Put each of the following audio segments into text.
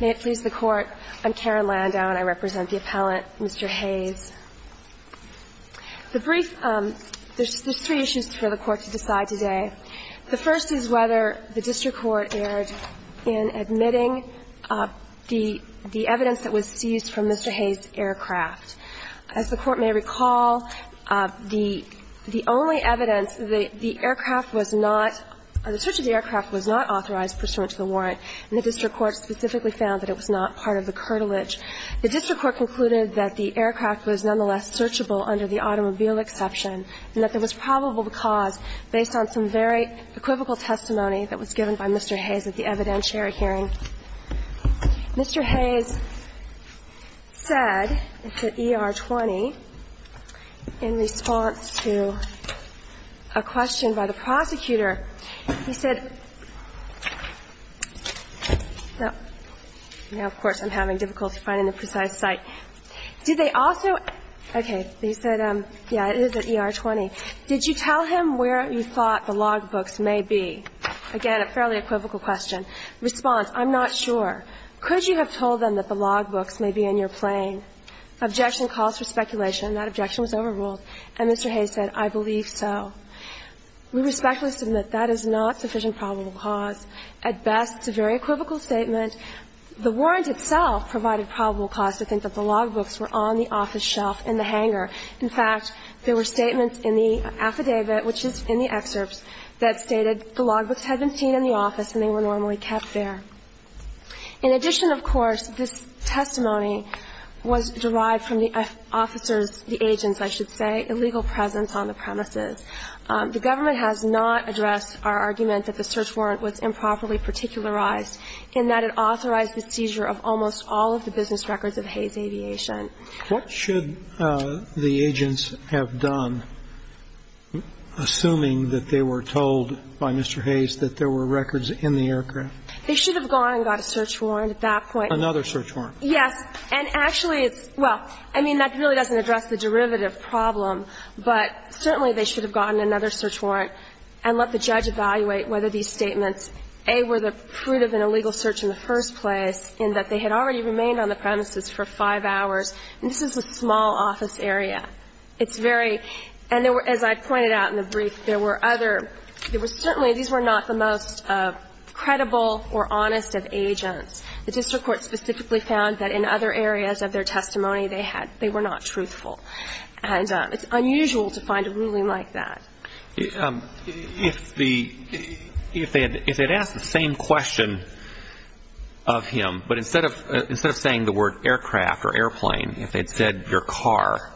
May it please the Court, I'm Karen Landau and I represent the appellant, Mr. Hays. The brief – there's three issues for the Court to decide today. The first is whether the district court erred in admitting the evidence that was seized from Mr. Hays' aircraft. As the Court may recall, the only evidence that the aircraft was not – the search of the aircraft was not authorized pursuant to the warrant, and the district court specifically found that it was not part of the curtilage. The district court concluded that the aircraft was nonetheless searchable under the automobile exception and that there was probable cause based on some very equivocal testimony that was given by Mr. Hays at the evidentiary hearing. Mr. Hays said to ER-20 in response to a question by the prosecutor, he said, Now, of course, I'm having difficulty finding the precise site. Did they also – okay. He said, yeah, it is at ER-20. Did you tell him where you thought the logbooks may be? Again, a fairly equivocal question. Response, I'm not sure. Could you have told them that the logbooks may be in your plane? Objection calls for speculation. And that objection was overruled. And Mr. Hays said, I believe so. We respectfully submit that that is not sufficient probable cause. At best, it's a very equivocal statement. The warrant itself provided probable cause to think that the logbooks were on the office shelf in the hangar. In fact, there were statements in the affidavit, which is in the excerpts, that stated the logbooks had been seen in the office and they were normally kept there. In addition, of course, this testimony was derived from the officer's – the agent's, I should say – illegal presence on the premises. The government has not addressed our argument that the search warrant was improperly particularized in that it authorized the seizure of almost all of the business records of Hays Aviation. What should the agents have done, assuming that they were told by Mr. Hays that there were records in the aircraft? They should have gone and got a search warrant at that point. Another search warrant. Yes. And actually, it's – well, I mean, that really doesn't address the derivative problem, but certainly they should have gotten another search warrant and let the judge evaluate whether these statements, A, were the fruit of an illegal search in the first place, in that they had already remained on the premises for five hours. And this is a small office area. It's very – and there were – as I pointed out in the brief, there were other – there were certainly – these were not the most credible or honest of agents. The district court specifically found that in other areas of their testimony, they had – they were not truthful. And it's unusual to find a ruling like that. If the – if they had – if they had asked the same question of him, but instead of – instead of saying the word aircraft or airplane, if they had said your car,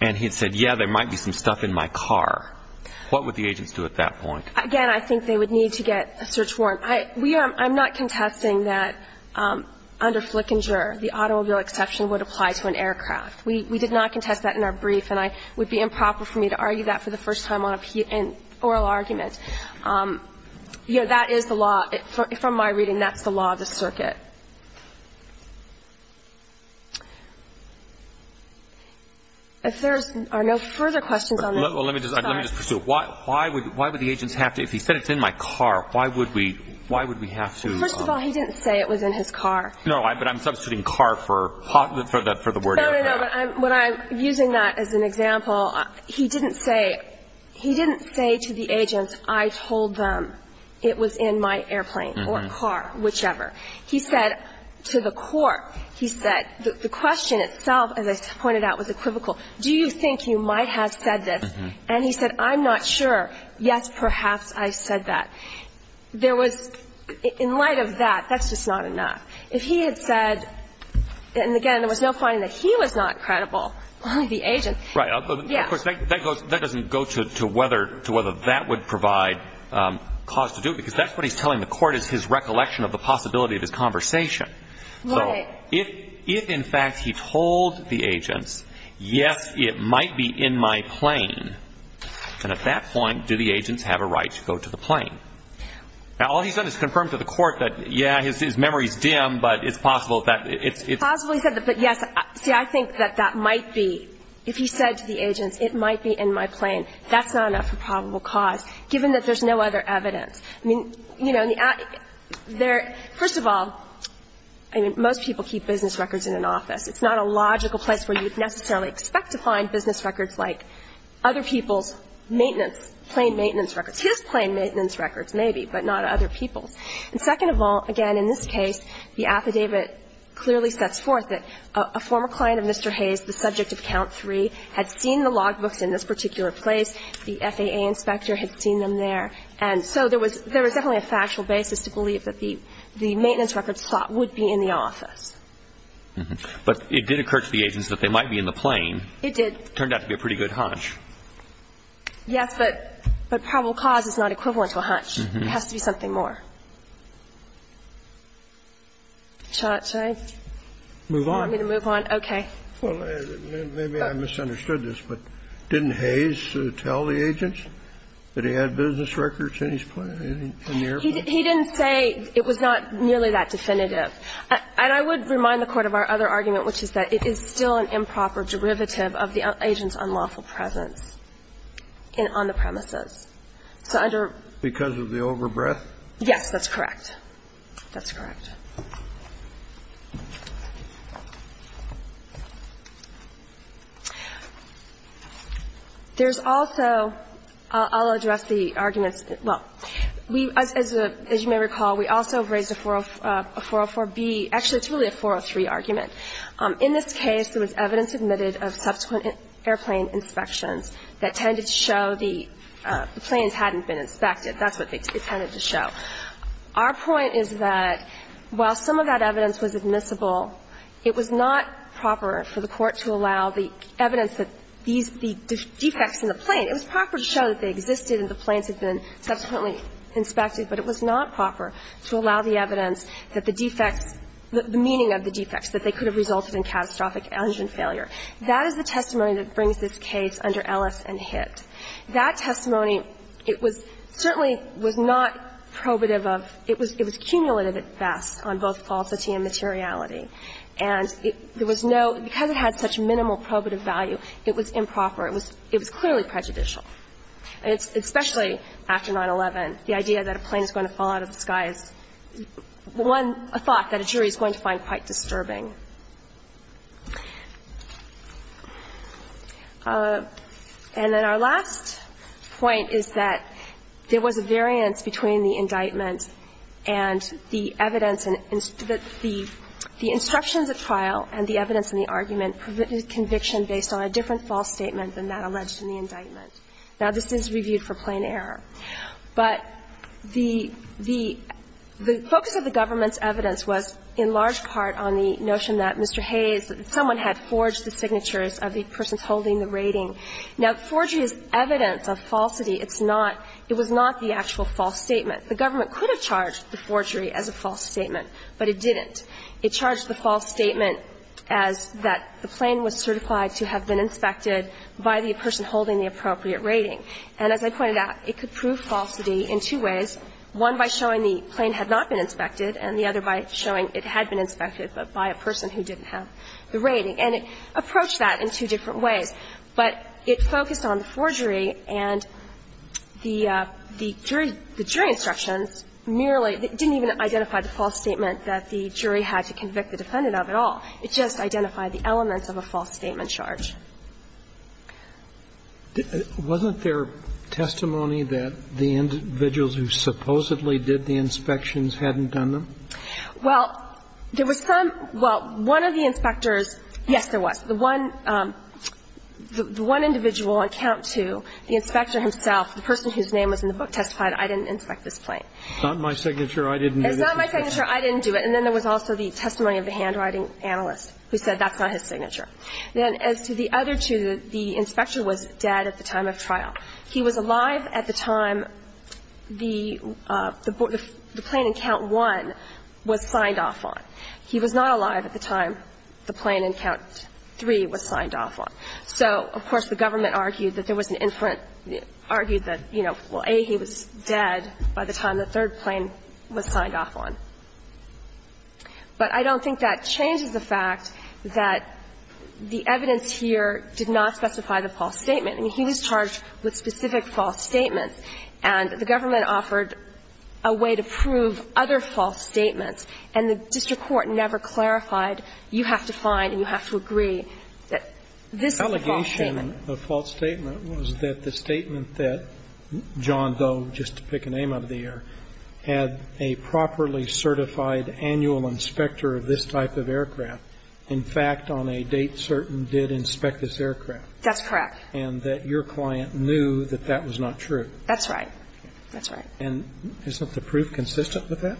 and he had said, yeah, there might be some stuff in my car, what would the agents do at that point? Again, I think they would need to get a search warrant. I – we are – I'm not contesting that under Flickinger, the automobile exception would apply to an aircraft. We did not contest that in our brief, and I – it would be improper for me to argue that for the first time on a – in oral argument. You know, that is the law – from my reading, that's the law of the circuit. If there are no further questions on this – Well, let me just – let me just pursue it. Why would – why would the agents have to – if he said it's in my car, why would we – why would we have to – First of all, he didn't say it was in his car. No, but I'm substituting car for – for the word aircraft. No, no, no, but I'm – what I'm – using that as an example, he didn't say – he didn't say to the agents, I told them it was in my airplane or car, whichever. He said to the court, he said – the question itself, as I pointed out, was equivocal. Do you think you might have said this? And he said, I'm not sure. Yes, perhaps I said that. There was – in light of that, that's just not enough. If he had said – and, again, there was no finding that he was not credible, only the agents. Right. Yeah. Of course, that goes – that doesn't go to whether – to whether that would provide cause to do it, because that's what he's telling the court is his recollection of the possibility of his conversation. Right. If – if, in fact, he told the agents, yes, it might be in my plane, then at that point, do the agents have a right to go to the plane? Now, all he's done is confirm to the court that, yeah, his memory's dim, but it's possible that it's – it's possible he said that, but, yes, see, I think that that might be – if he said to the agents, it might be in my plane, that's not enough for probable cause, given that there's no other evidence. I mean, you know, there – first of all, I mean, most people keep business records in an office. It's not a logical place where you would necessarily expect to find business records like other people's maintenance, plane maintenance records. His plane maintenance records, maybe, but not other people's. And second of all, again, in this case, the affidavit clearly sets forth that a former client of Mr. Hayes, the subject of Count III, had seen the logbooks in this particular place, the FAA inspector had seen them there. And so there was – there was definitely a factual basis to believe that the – the maintenance records slot would be in the office. But it did occur to the agents that they might be in the plane. It did. Turned out to be a pretty good hunch. Yes, but probable cause is not equivalent to a hunch. It has to be something more. Shall I move on? You want me to move on? Okay. Well, maybe I misunderstood this, but didn't Hayes tell the agents that he had business records in his plane, in the airport? He didn't say it was not nearly that definitive. And I would remind the Court of our other argument, which is that it is still an improper derivative of the agent's unlawful presence in – on the premises. So under – Because of the overbreath? Yes, that's correct. That's correct. There's also – I'll address the arguments – well, we – as you may recall, we also raised a 404B – actually, it's really a 403 argument. In this case, there was evidence admitted of subsequent airplane inspections that tended to show the planes hadn't been inspected. That's what they tended to show. Our point is that while some of that evidence was admissible, it was not proper for the Court to allow the evidence that these – the defects in the plane – it was proper to show that they existed and the planes had been subsequently inspected, but it was not proper to allow the evidence that the defects – the meaning of the defects, that they could have resulted in catastrophic engine failure. That is the testimony that brings this case under Ellis and Hitt. That testimony, it was – certainly was not probative of – it was – it was cumulative at best on both falsity and materiality. And it – there was no – because it had such minimal probative value, it was improper. It was – it was clearly prejudicial, especially after 9-11. The idea that a plane is going to fall out of the sky is one – a thought that a jury is going to find quite disturbing. And then our last point is that there was a variance between the indictment and the evidence in – the instructions at trial and the evidence in the argument provided conviction based on a different false statement than that alleged in the indictment. Now, this is reviewed for plain error, but the – the focus of the government's evidence was in large part on the notion that Mr. Hayes – that someone had forged the signatures of the persons holding the rating. Now, forgery is evidence of falsity. It's not – it was not the actual false statement. The government could have charged the forgery as a false statement, but it didn't. It charged the false statement as that the plane was certified to have been inspected by the person holding the appropriate rating. And as I pointed out, it could prove falsity in two ways. One, by showing the plane had not been inspected, and the other by showing it had been inspected, but by a person who didn't have the rating. And it approached that in two different ways. But it focused on the forgery, and the – the jury instructions merely didn't even identify the false statement that the jury had to convict the defendant of at all. It just identified the elements of a false statement charge. Was it their testimony that the individuals who supposedly did the inspections hadn't done them? Well, there was some – well, one of the inspectors – yes, there was. The one – the one individual on account to the inspector himself, the person whose name was in the book, testified, I didn't inspect this plane. It's not my signature. I didn't do this. It's not my signature. I didn't do it. And then there was also the testimony of the handwriting analyst who said that's not his signature. Then as to the other two, the inspector was dead at the time of trial. He was alive at the time the plane in count one was signed off on. He was not alive at the time the plane in count three was signed off on. So, of course, the government argued that there was an inference – argued that, you know, well, A, he was dead by the time the third plane was signed off on. But I don't think that changes the fact that the evidence here did not specify the false statement. I mean, he was charged with specific false statements. And the government offered a way to prove other false statements. And the district court never clarified, you have to find and you have to agree that this is a false statement. The allegation of false statement was that the statement that John Doe, just to pick up on that, that John Doe was a certified annual inspector of this type of aircraft, in fact, on a date certain, did inspect this aircraft. That's correct. And that your client knew that that was not true. That's right. That's right. And isn't the proof consistent with that?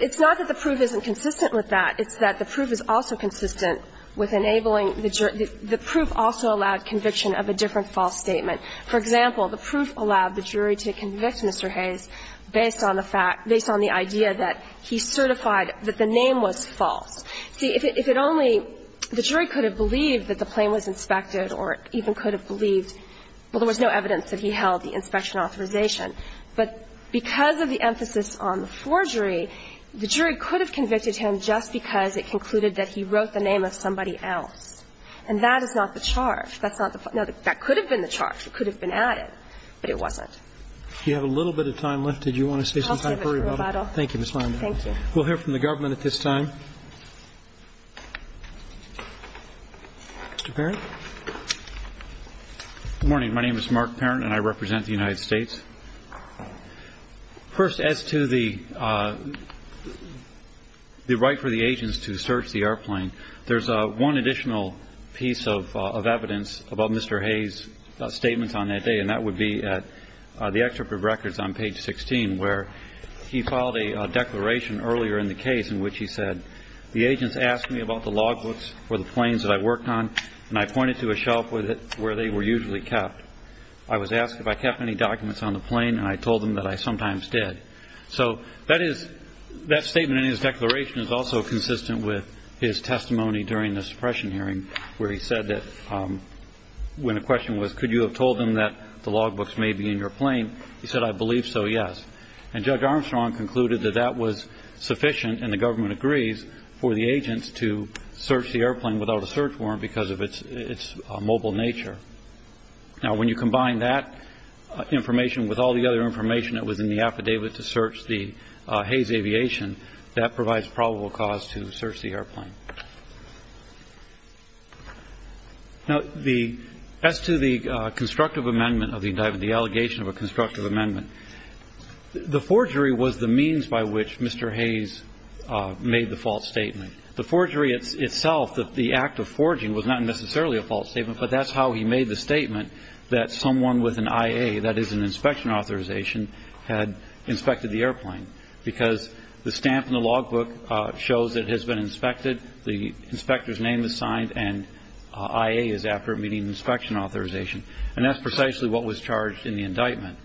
It's not that the proof isn't consistent with that. It's that the proof is also consistent with enabling the jury – the proof also allowed conviction of a different false statement. For example, the proof allowed the jury to convict Mr. Hayes based on the fact – based on the idea that he certified that the name was false. See, if it only – the jury could have believed that the plane was inspected or even could have believed – well, there was no evidence that he held the inspection authorization. But because of the emphasis on the forgery, the jury could have convicted him just because it concluded that he wrote the name of somebody else. And that is not the charge. That's not the – no, that could have been the charge. It could have been added, but it wasn't. Do you have a little bit of time left? Did you want to say something? Thank you, Ms. Linder. Thank you. We'll hear from the government at this time. Mr. Parent? Good morning. My name is Mark Parent, and I represent the United States. First, as to the right for the agents to search the airplane, there's one additional piece of evidence about Mr. Hayes' statements on that day, and that would be at the Excerpt of Records on page 16, where he filed a declaration earlier in the case in which he said, The agents asked me about the logbooks for the planes that I worked on, and I pointed to a shelf with it where they were usually kept. I was asked if I kept any documents on the plane, and I told them that I sometimes did. So that is – that statement in his declaration is also consistent with his testimony during the suppression hearing where he said that when a question was, Could you have told them that the logbooks may be in your plane, he said, I believe so, yes. And Judge Armstrong concluded that that was sufficient, and the government agrees, for the agents to search the airplane without a search warrant because of its mobile nature. Now, when you combine that information with all the other information that was in the affidavit to search the Hayes Aviation, that provides probable cause to search the airplane. Now, the – as to the constructive amendment of the indictment, the allegation of a constructive amendment, the forgery was the means by which Mr. Hayes made the false statement. The forgery itself, the act of forging, was not necessarily a false statement, but that's how he made the statement that someone with an IA, that is an inspection authorization, had inspected the airplane, because the stamp in the logbook shows it has been inspected. The inspector's name is signed, and IA is after meeting inspection authorization. And that's precisely what was charged in the indictment.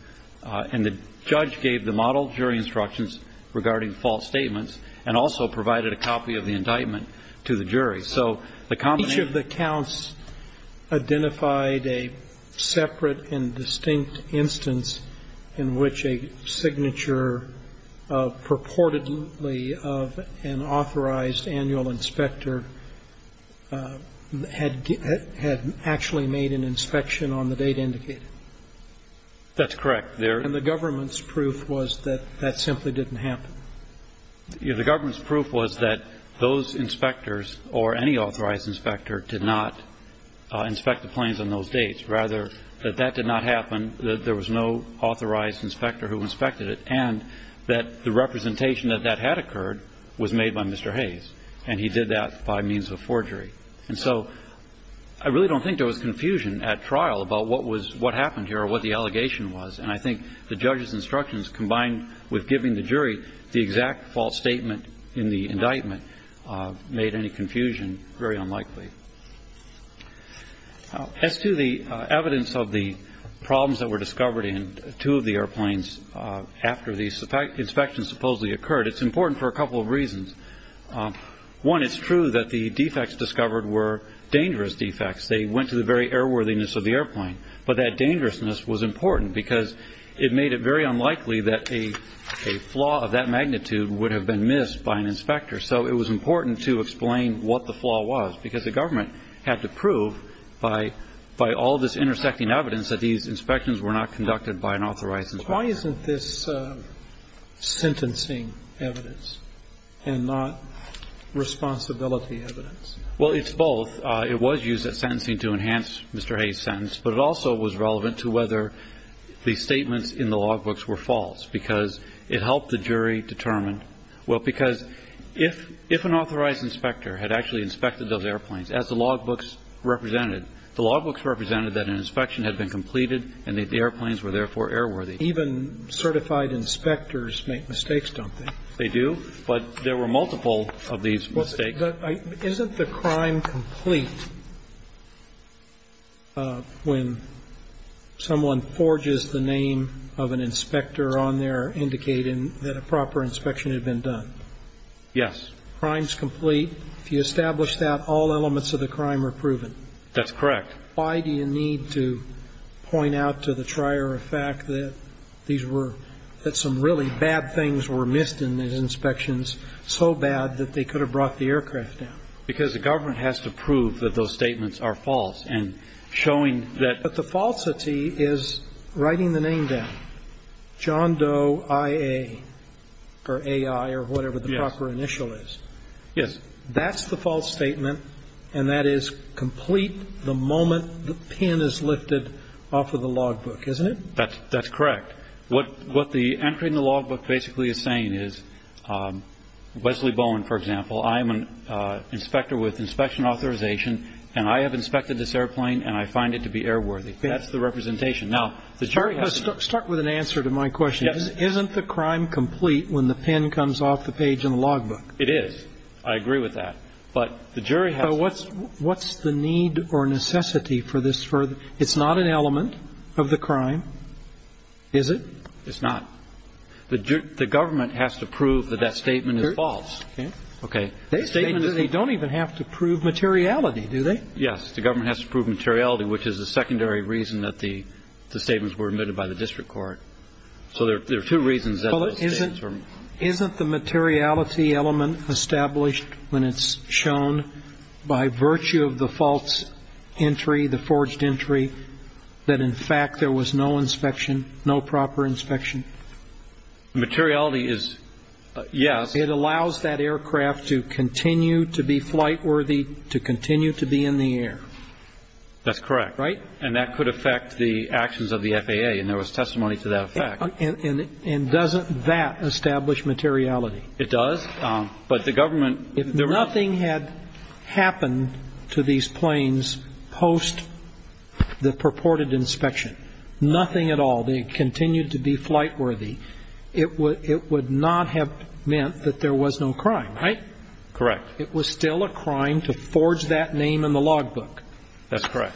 And the judge gave the model jury instructions regarding false statements and also provided a copy of the indictment to the jury. So the combination of the counts identified a separate and distinct instance in which a signature purportedly of an authorized annual inspector had actually made an inspection on the date indicated. That's correct. And the government's proof was that that simply didn't happen. The government's proof was that those inspectors or any authorized inspector did not inspect the planes on those dates. Rather, that that did not happen, that there was no authorized inspector who inspected it, and that the representation that that had occurred was made by Mr. Hayes, and he did that by means of forgery. And so I really don't think there was confusion at trial about what was what happened here or what the allegation was. And I think the judge's instructions combined with giving the jury the exact false statement in the indictment made any confusion very unlikely. As to the evidence of the problems that were discovered in two of the airplanes after the inspection supposedly occurred, it's important for a couple of reasons. One, it's true that the defects discovered were dangerous defects. They went to the very airworthiness of the airplane. But that dangerousness was important because it made it very unlikely that a flaw of that magnitude would have been missed by an inspector. So it was important to explain what the flaw was because the government had to prove by all this intersecting evidence that these inspections were not conducted by an authorized inspector. Why isn't this sentencing evidence and not responsibility evidence? Well, it's both. It was used at sentencing to enhance Mr. Hayes' sentence, but it also was relevant to whether the statements in the logbooks were false because it helped the jury determine whether the defect was found. Well, because if an authorized inspector had actually inspected those airplanes, as the logbooks represented, the logbooks represented that an inspection had been completed and that the airplanes were therefore airworthy. Even certified inspectors make mistakes, don't they? They do. But there were multiple of these mistakes. But isn't the crime complete when someone forges the name of an inspector on there to indicate that a proper inspection had been done? Yes. Crime's complete. If you establish that, all elements of the crime are proven. That's correct. Why do you need to point out to the trier the fact that these were, that some really bad things were missed in these inspections, so bad that they could have brought the aircraft down? Because the government has to prove that those statements are false. And showing that the falsity is writing the name down. John Doe I.A. or A.I. or whatever the proper initial is. Yes. That's the false statement, and that is complete the moment the pin is lifted off of the logbook, isn't it? That's correct. What the entry in the logbook basically is saying is, Wesley Bowen, for example, I'm an inspector with inspection authorization, and I have inspected this airplane, and I find it to be airworthy. That's the representation. Start with an answer to my question. Isn't the crime complete when the pin comes off the page in the logbook? It is. I agree with that. But the jury has to. What's the need or necessity for this? It's not an element of the crime, is it? It's not. The government has to prove that that statement is false. Okay. They don't even have to prove materiality, do they? Yes. The government has to prove materiality, which is the secondary reason that the statements were omitted by the district court. So there are two reasons that those statements were omitted. Isn't the materiality element established when it's shown by virtue of the false entry, the forged entry, that, in fact, there was no inspection, no proper inspection? Materiality is, yes. It allows that aircraft to continue to be flightworthy, to continue to be in the air. That's correct. Right? And that could affect the actions of the FAA, and there was testimony to that effect. And doesn't that establish materiality? It does. But the government – If nothing had happened to these planes post the purported inspection, nothing at all, they continued to be flightworthy, it would not have meant that there was no crime, right? Correct. It was still a crime to forge that name in the logbook. That's correct.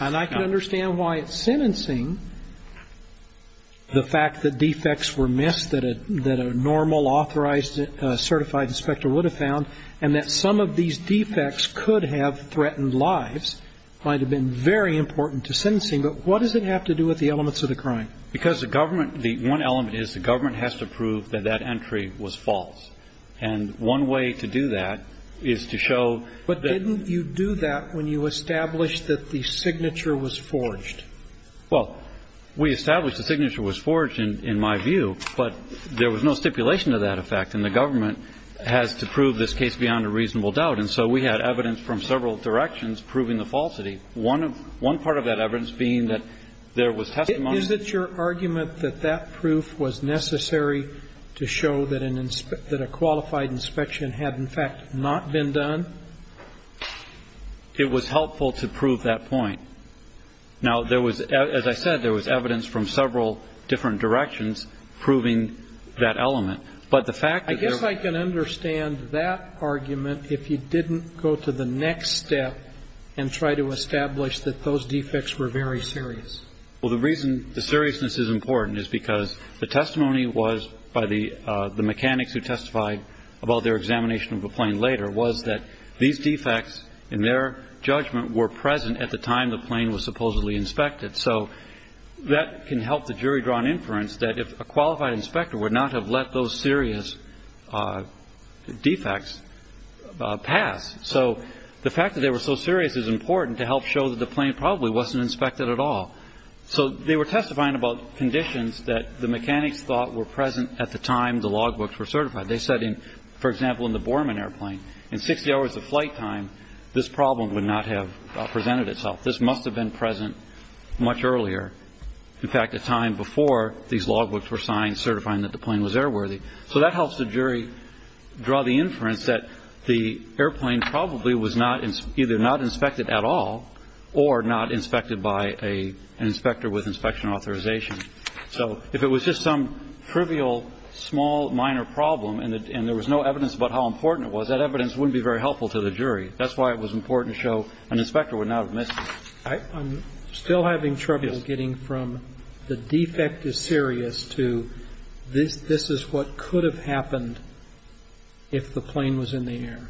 And I can understand why at sentencing the fact that defects were missed that a normal, authorized, certified inspector would have found, and that some of these defects could have threatened lives might have been very important to sentencing. But what does it have to do with the elements of the crime? Because the government – the one element is the government has to prove that that entry was false. And one way to do that is to show that – But didn't you do that when you established that the signature was forged? Well, we established the signature was forged, in my view, but there was no stipulation to that effect, and the government has to prove this case beyond a reasonable doubt. And so we had evidence from several directions proving the falsity. One part of that evidence being that there was testimony – Is it your argument that that proof was necessary to show that a qualified inspection had, in fact, not been done? It was helpful to prove that point. Now, there was – as I said, there was evidence from several different directions proving that element. But the fact that there – Well, the reason the seriousness is important is because the testimony was by the mechanics who testified about their examination of the plane later was that these defects, in their judgment, were present at the time the plane was supposedly inspected. So that can help the jury draw an inference that if a qualified inspector would not have let those serious defects pass. So the fact that they were so serious is important to help show that the plane probably wasn't inspected at all. So they were testifying about conditions that the mechanics thought were present at the time the logbooks were certified. They said, for example, in the Borman airplane, in 60 hours of flight time, this problem would not have presented itself. This must have been present much earlier, in fact, a time before these logbooks were signed certifying that the plane was airworthy. So that helps the jury draw the inference that the airplane probably was not – either not inspected at all or not inspected by an inspector with inspection authorization. So if it was just some trivial, small, minor problem and there was no evidence about how important it was, that evidence wouldn't be very helpful to the jury. That's why it was important to show an inspector would not have missed it. I'm still having trouble getting from the defect is serious to this is what could have happened if the plane was in the air.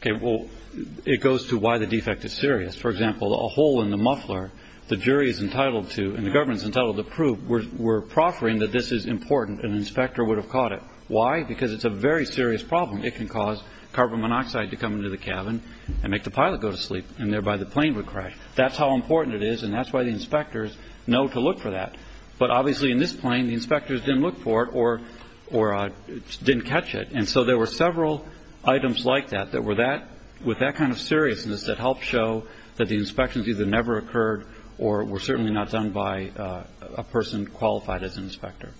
Okay. Well, it goes to why the defect is serious. For example, a hole in the muffler, the jury is entitled to and the government is entitled to prove we're proffering that this is important and an inspector would have caught it. Why? Because it's a very serious problem. It can cause carbon monoxide to come into the cabin and make the pilot go to sleep and thereby the plane would crash. That's how important it is and that's why the inspectors know to look for that. But obviously in this plane, the inspectors didn't look for it or didn't catch it. And so there were several items like that that were that – with that kind of seriousness that helped show that the inspections either never occurred or were certainly not done by a person qualified as an inspector.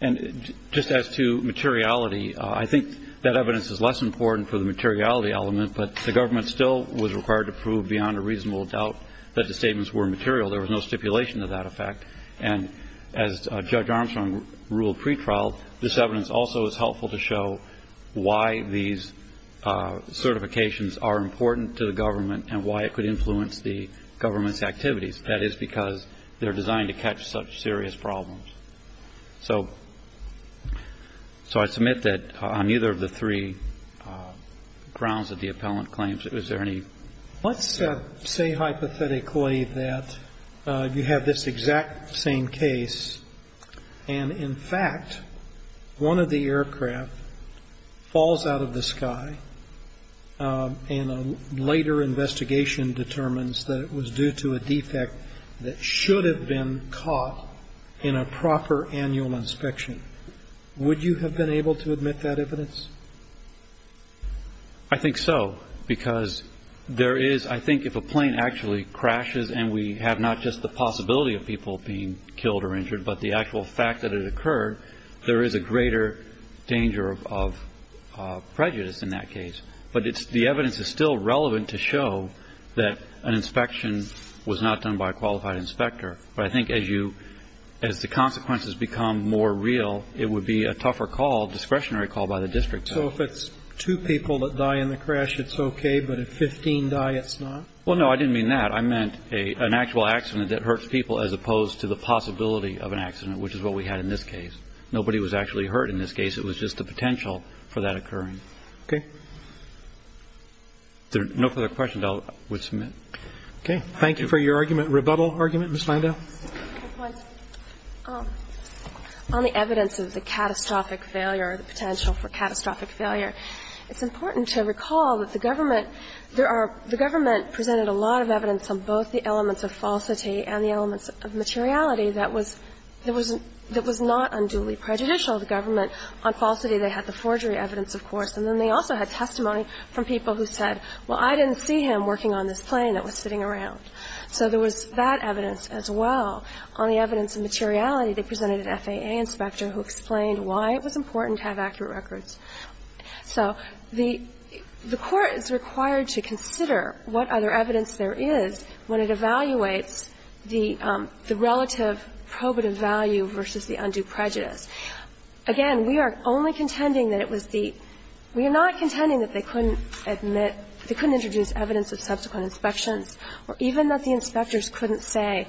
And just as to materiality, I think that evidence is less important for the materiality element, but the government still was required to prove beyond a reasonable doubt that the statements were material. There was no stipulation to that effect. And as Judge Armstrong ruled pretrial, this evidence also is helpful to show why these certifications are important to the government and why it could influence the government's activities. That is because they're designed to catch such serious problems. So I submit that on either of the three grounds that the appellant claims, is there any – Let's say hypothetically that you have this exact same case and in fact one of the aircraft falls out of the sky and a later investigation determines that it was due to a defect that should have been caught in a proper annual inspection. Would you have been able to admit that evidence? I think so, because there is – I think if a plane actually crashes and we have not just the possibility of people being killed or injured, but the actual fact that it occurred, there is a greater danger of prejudice in that case. But the evidence is still relevant to show that an inspection was not done by a qualified inspector. But I think as you – as the consequences become more real, it would be a tougher call, discretionary call by the district. So if it's two people that die in the crash, it's okay, but if 15 die, it's not? Well, no, I didn't mean that. I meant an actual accident that hurts people as opposed to the possibility of an accident, which is what we had in this case. Nobody was actually hurt in this case. It was just the potential for that occurring. Okay. If there are no further questions, I will submit. Okay. Thank you for your argument, rebuttal argument. Ms. Landau. On the evidence of the catastrophic failure, the potential for catastrophic failure, it's important to recall that the government – there are – the government presented a lot of evidence on both the elements of falsity and the elements of materiality that was – that was not unduly prejudicial to government. On falsity, they had the forgery evidence, of course, and then they also had testimony from people who said, well, I didn't see him working on this plane that was sitting around. So there was that evidence as well. On the evidence of materiality, they presented an FAA inspector who explained why it was important to have accurate records. So the court is required to consider what other evidence there is when it evaluates the relative probative value versus the undue prejudice. Again, we are only contending that it was the – we are not contending that they couldn't admit – they couldn't introduce evidence of subsequent inspections or even that the inspectors couldn't say,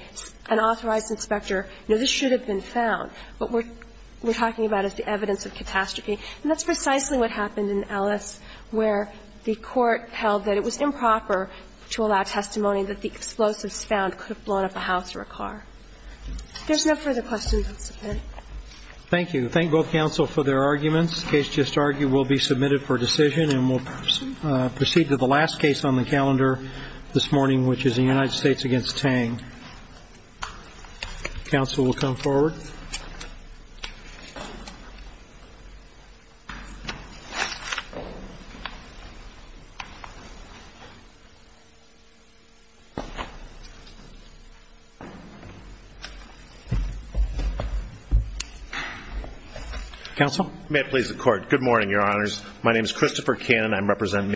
an authorized inspector, you know, this should have been found. What we're talking about is the evidence of catastrophe. And that's precisely what happened in Ellis, where the court held that it was improper to allow testimony that the explosives found could have blown up a house or a car. If there's no further questions, I'll stop there. Roberts. Thank you. Thank both counsel for their arguments. The case just argued will be submitted for decision, and we'll proceed to the last case on the calendar this morning, which is the United States against Tang. Counsel will come forward. Counsel. Counsel? May it please the Court. Good morning, Your Honors. My name is Christopher Cannon.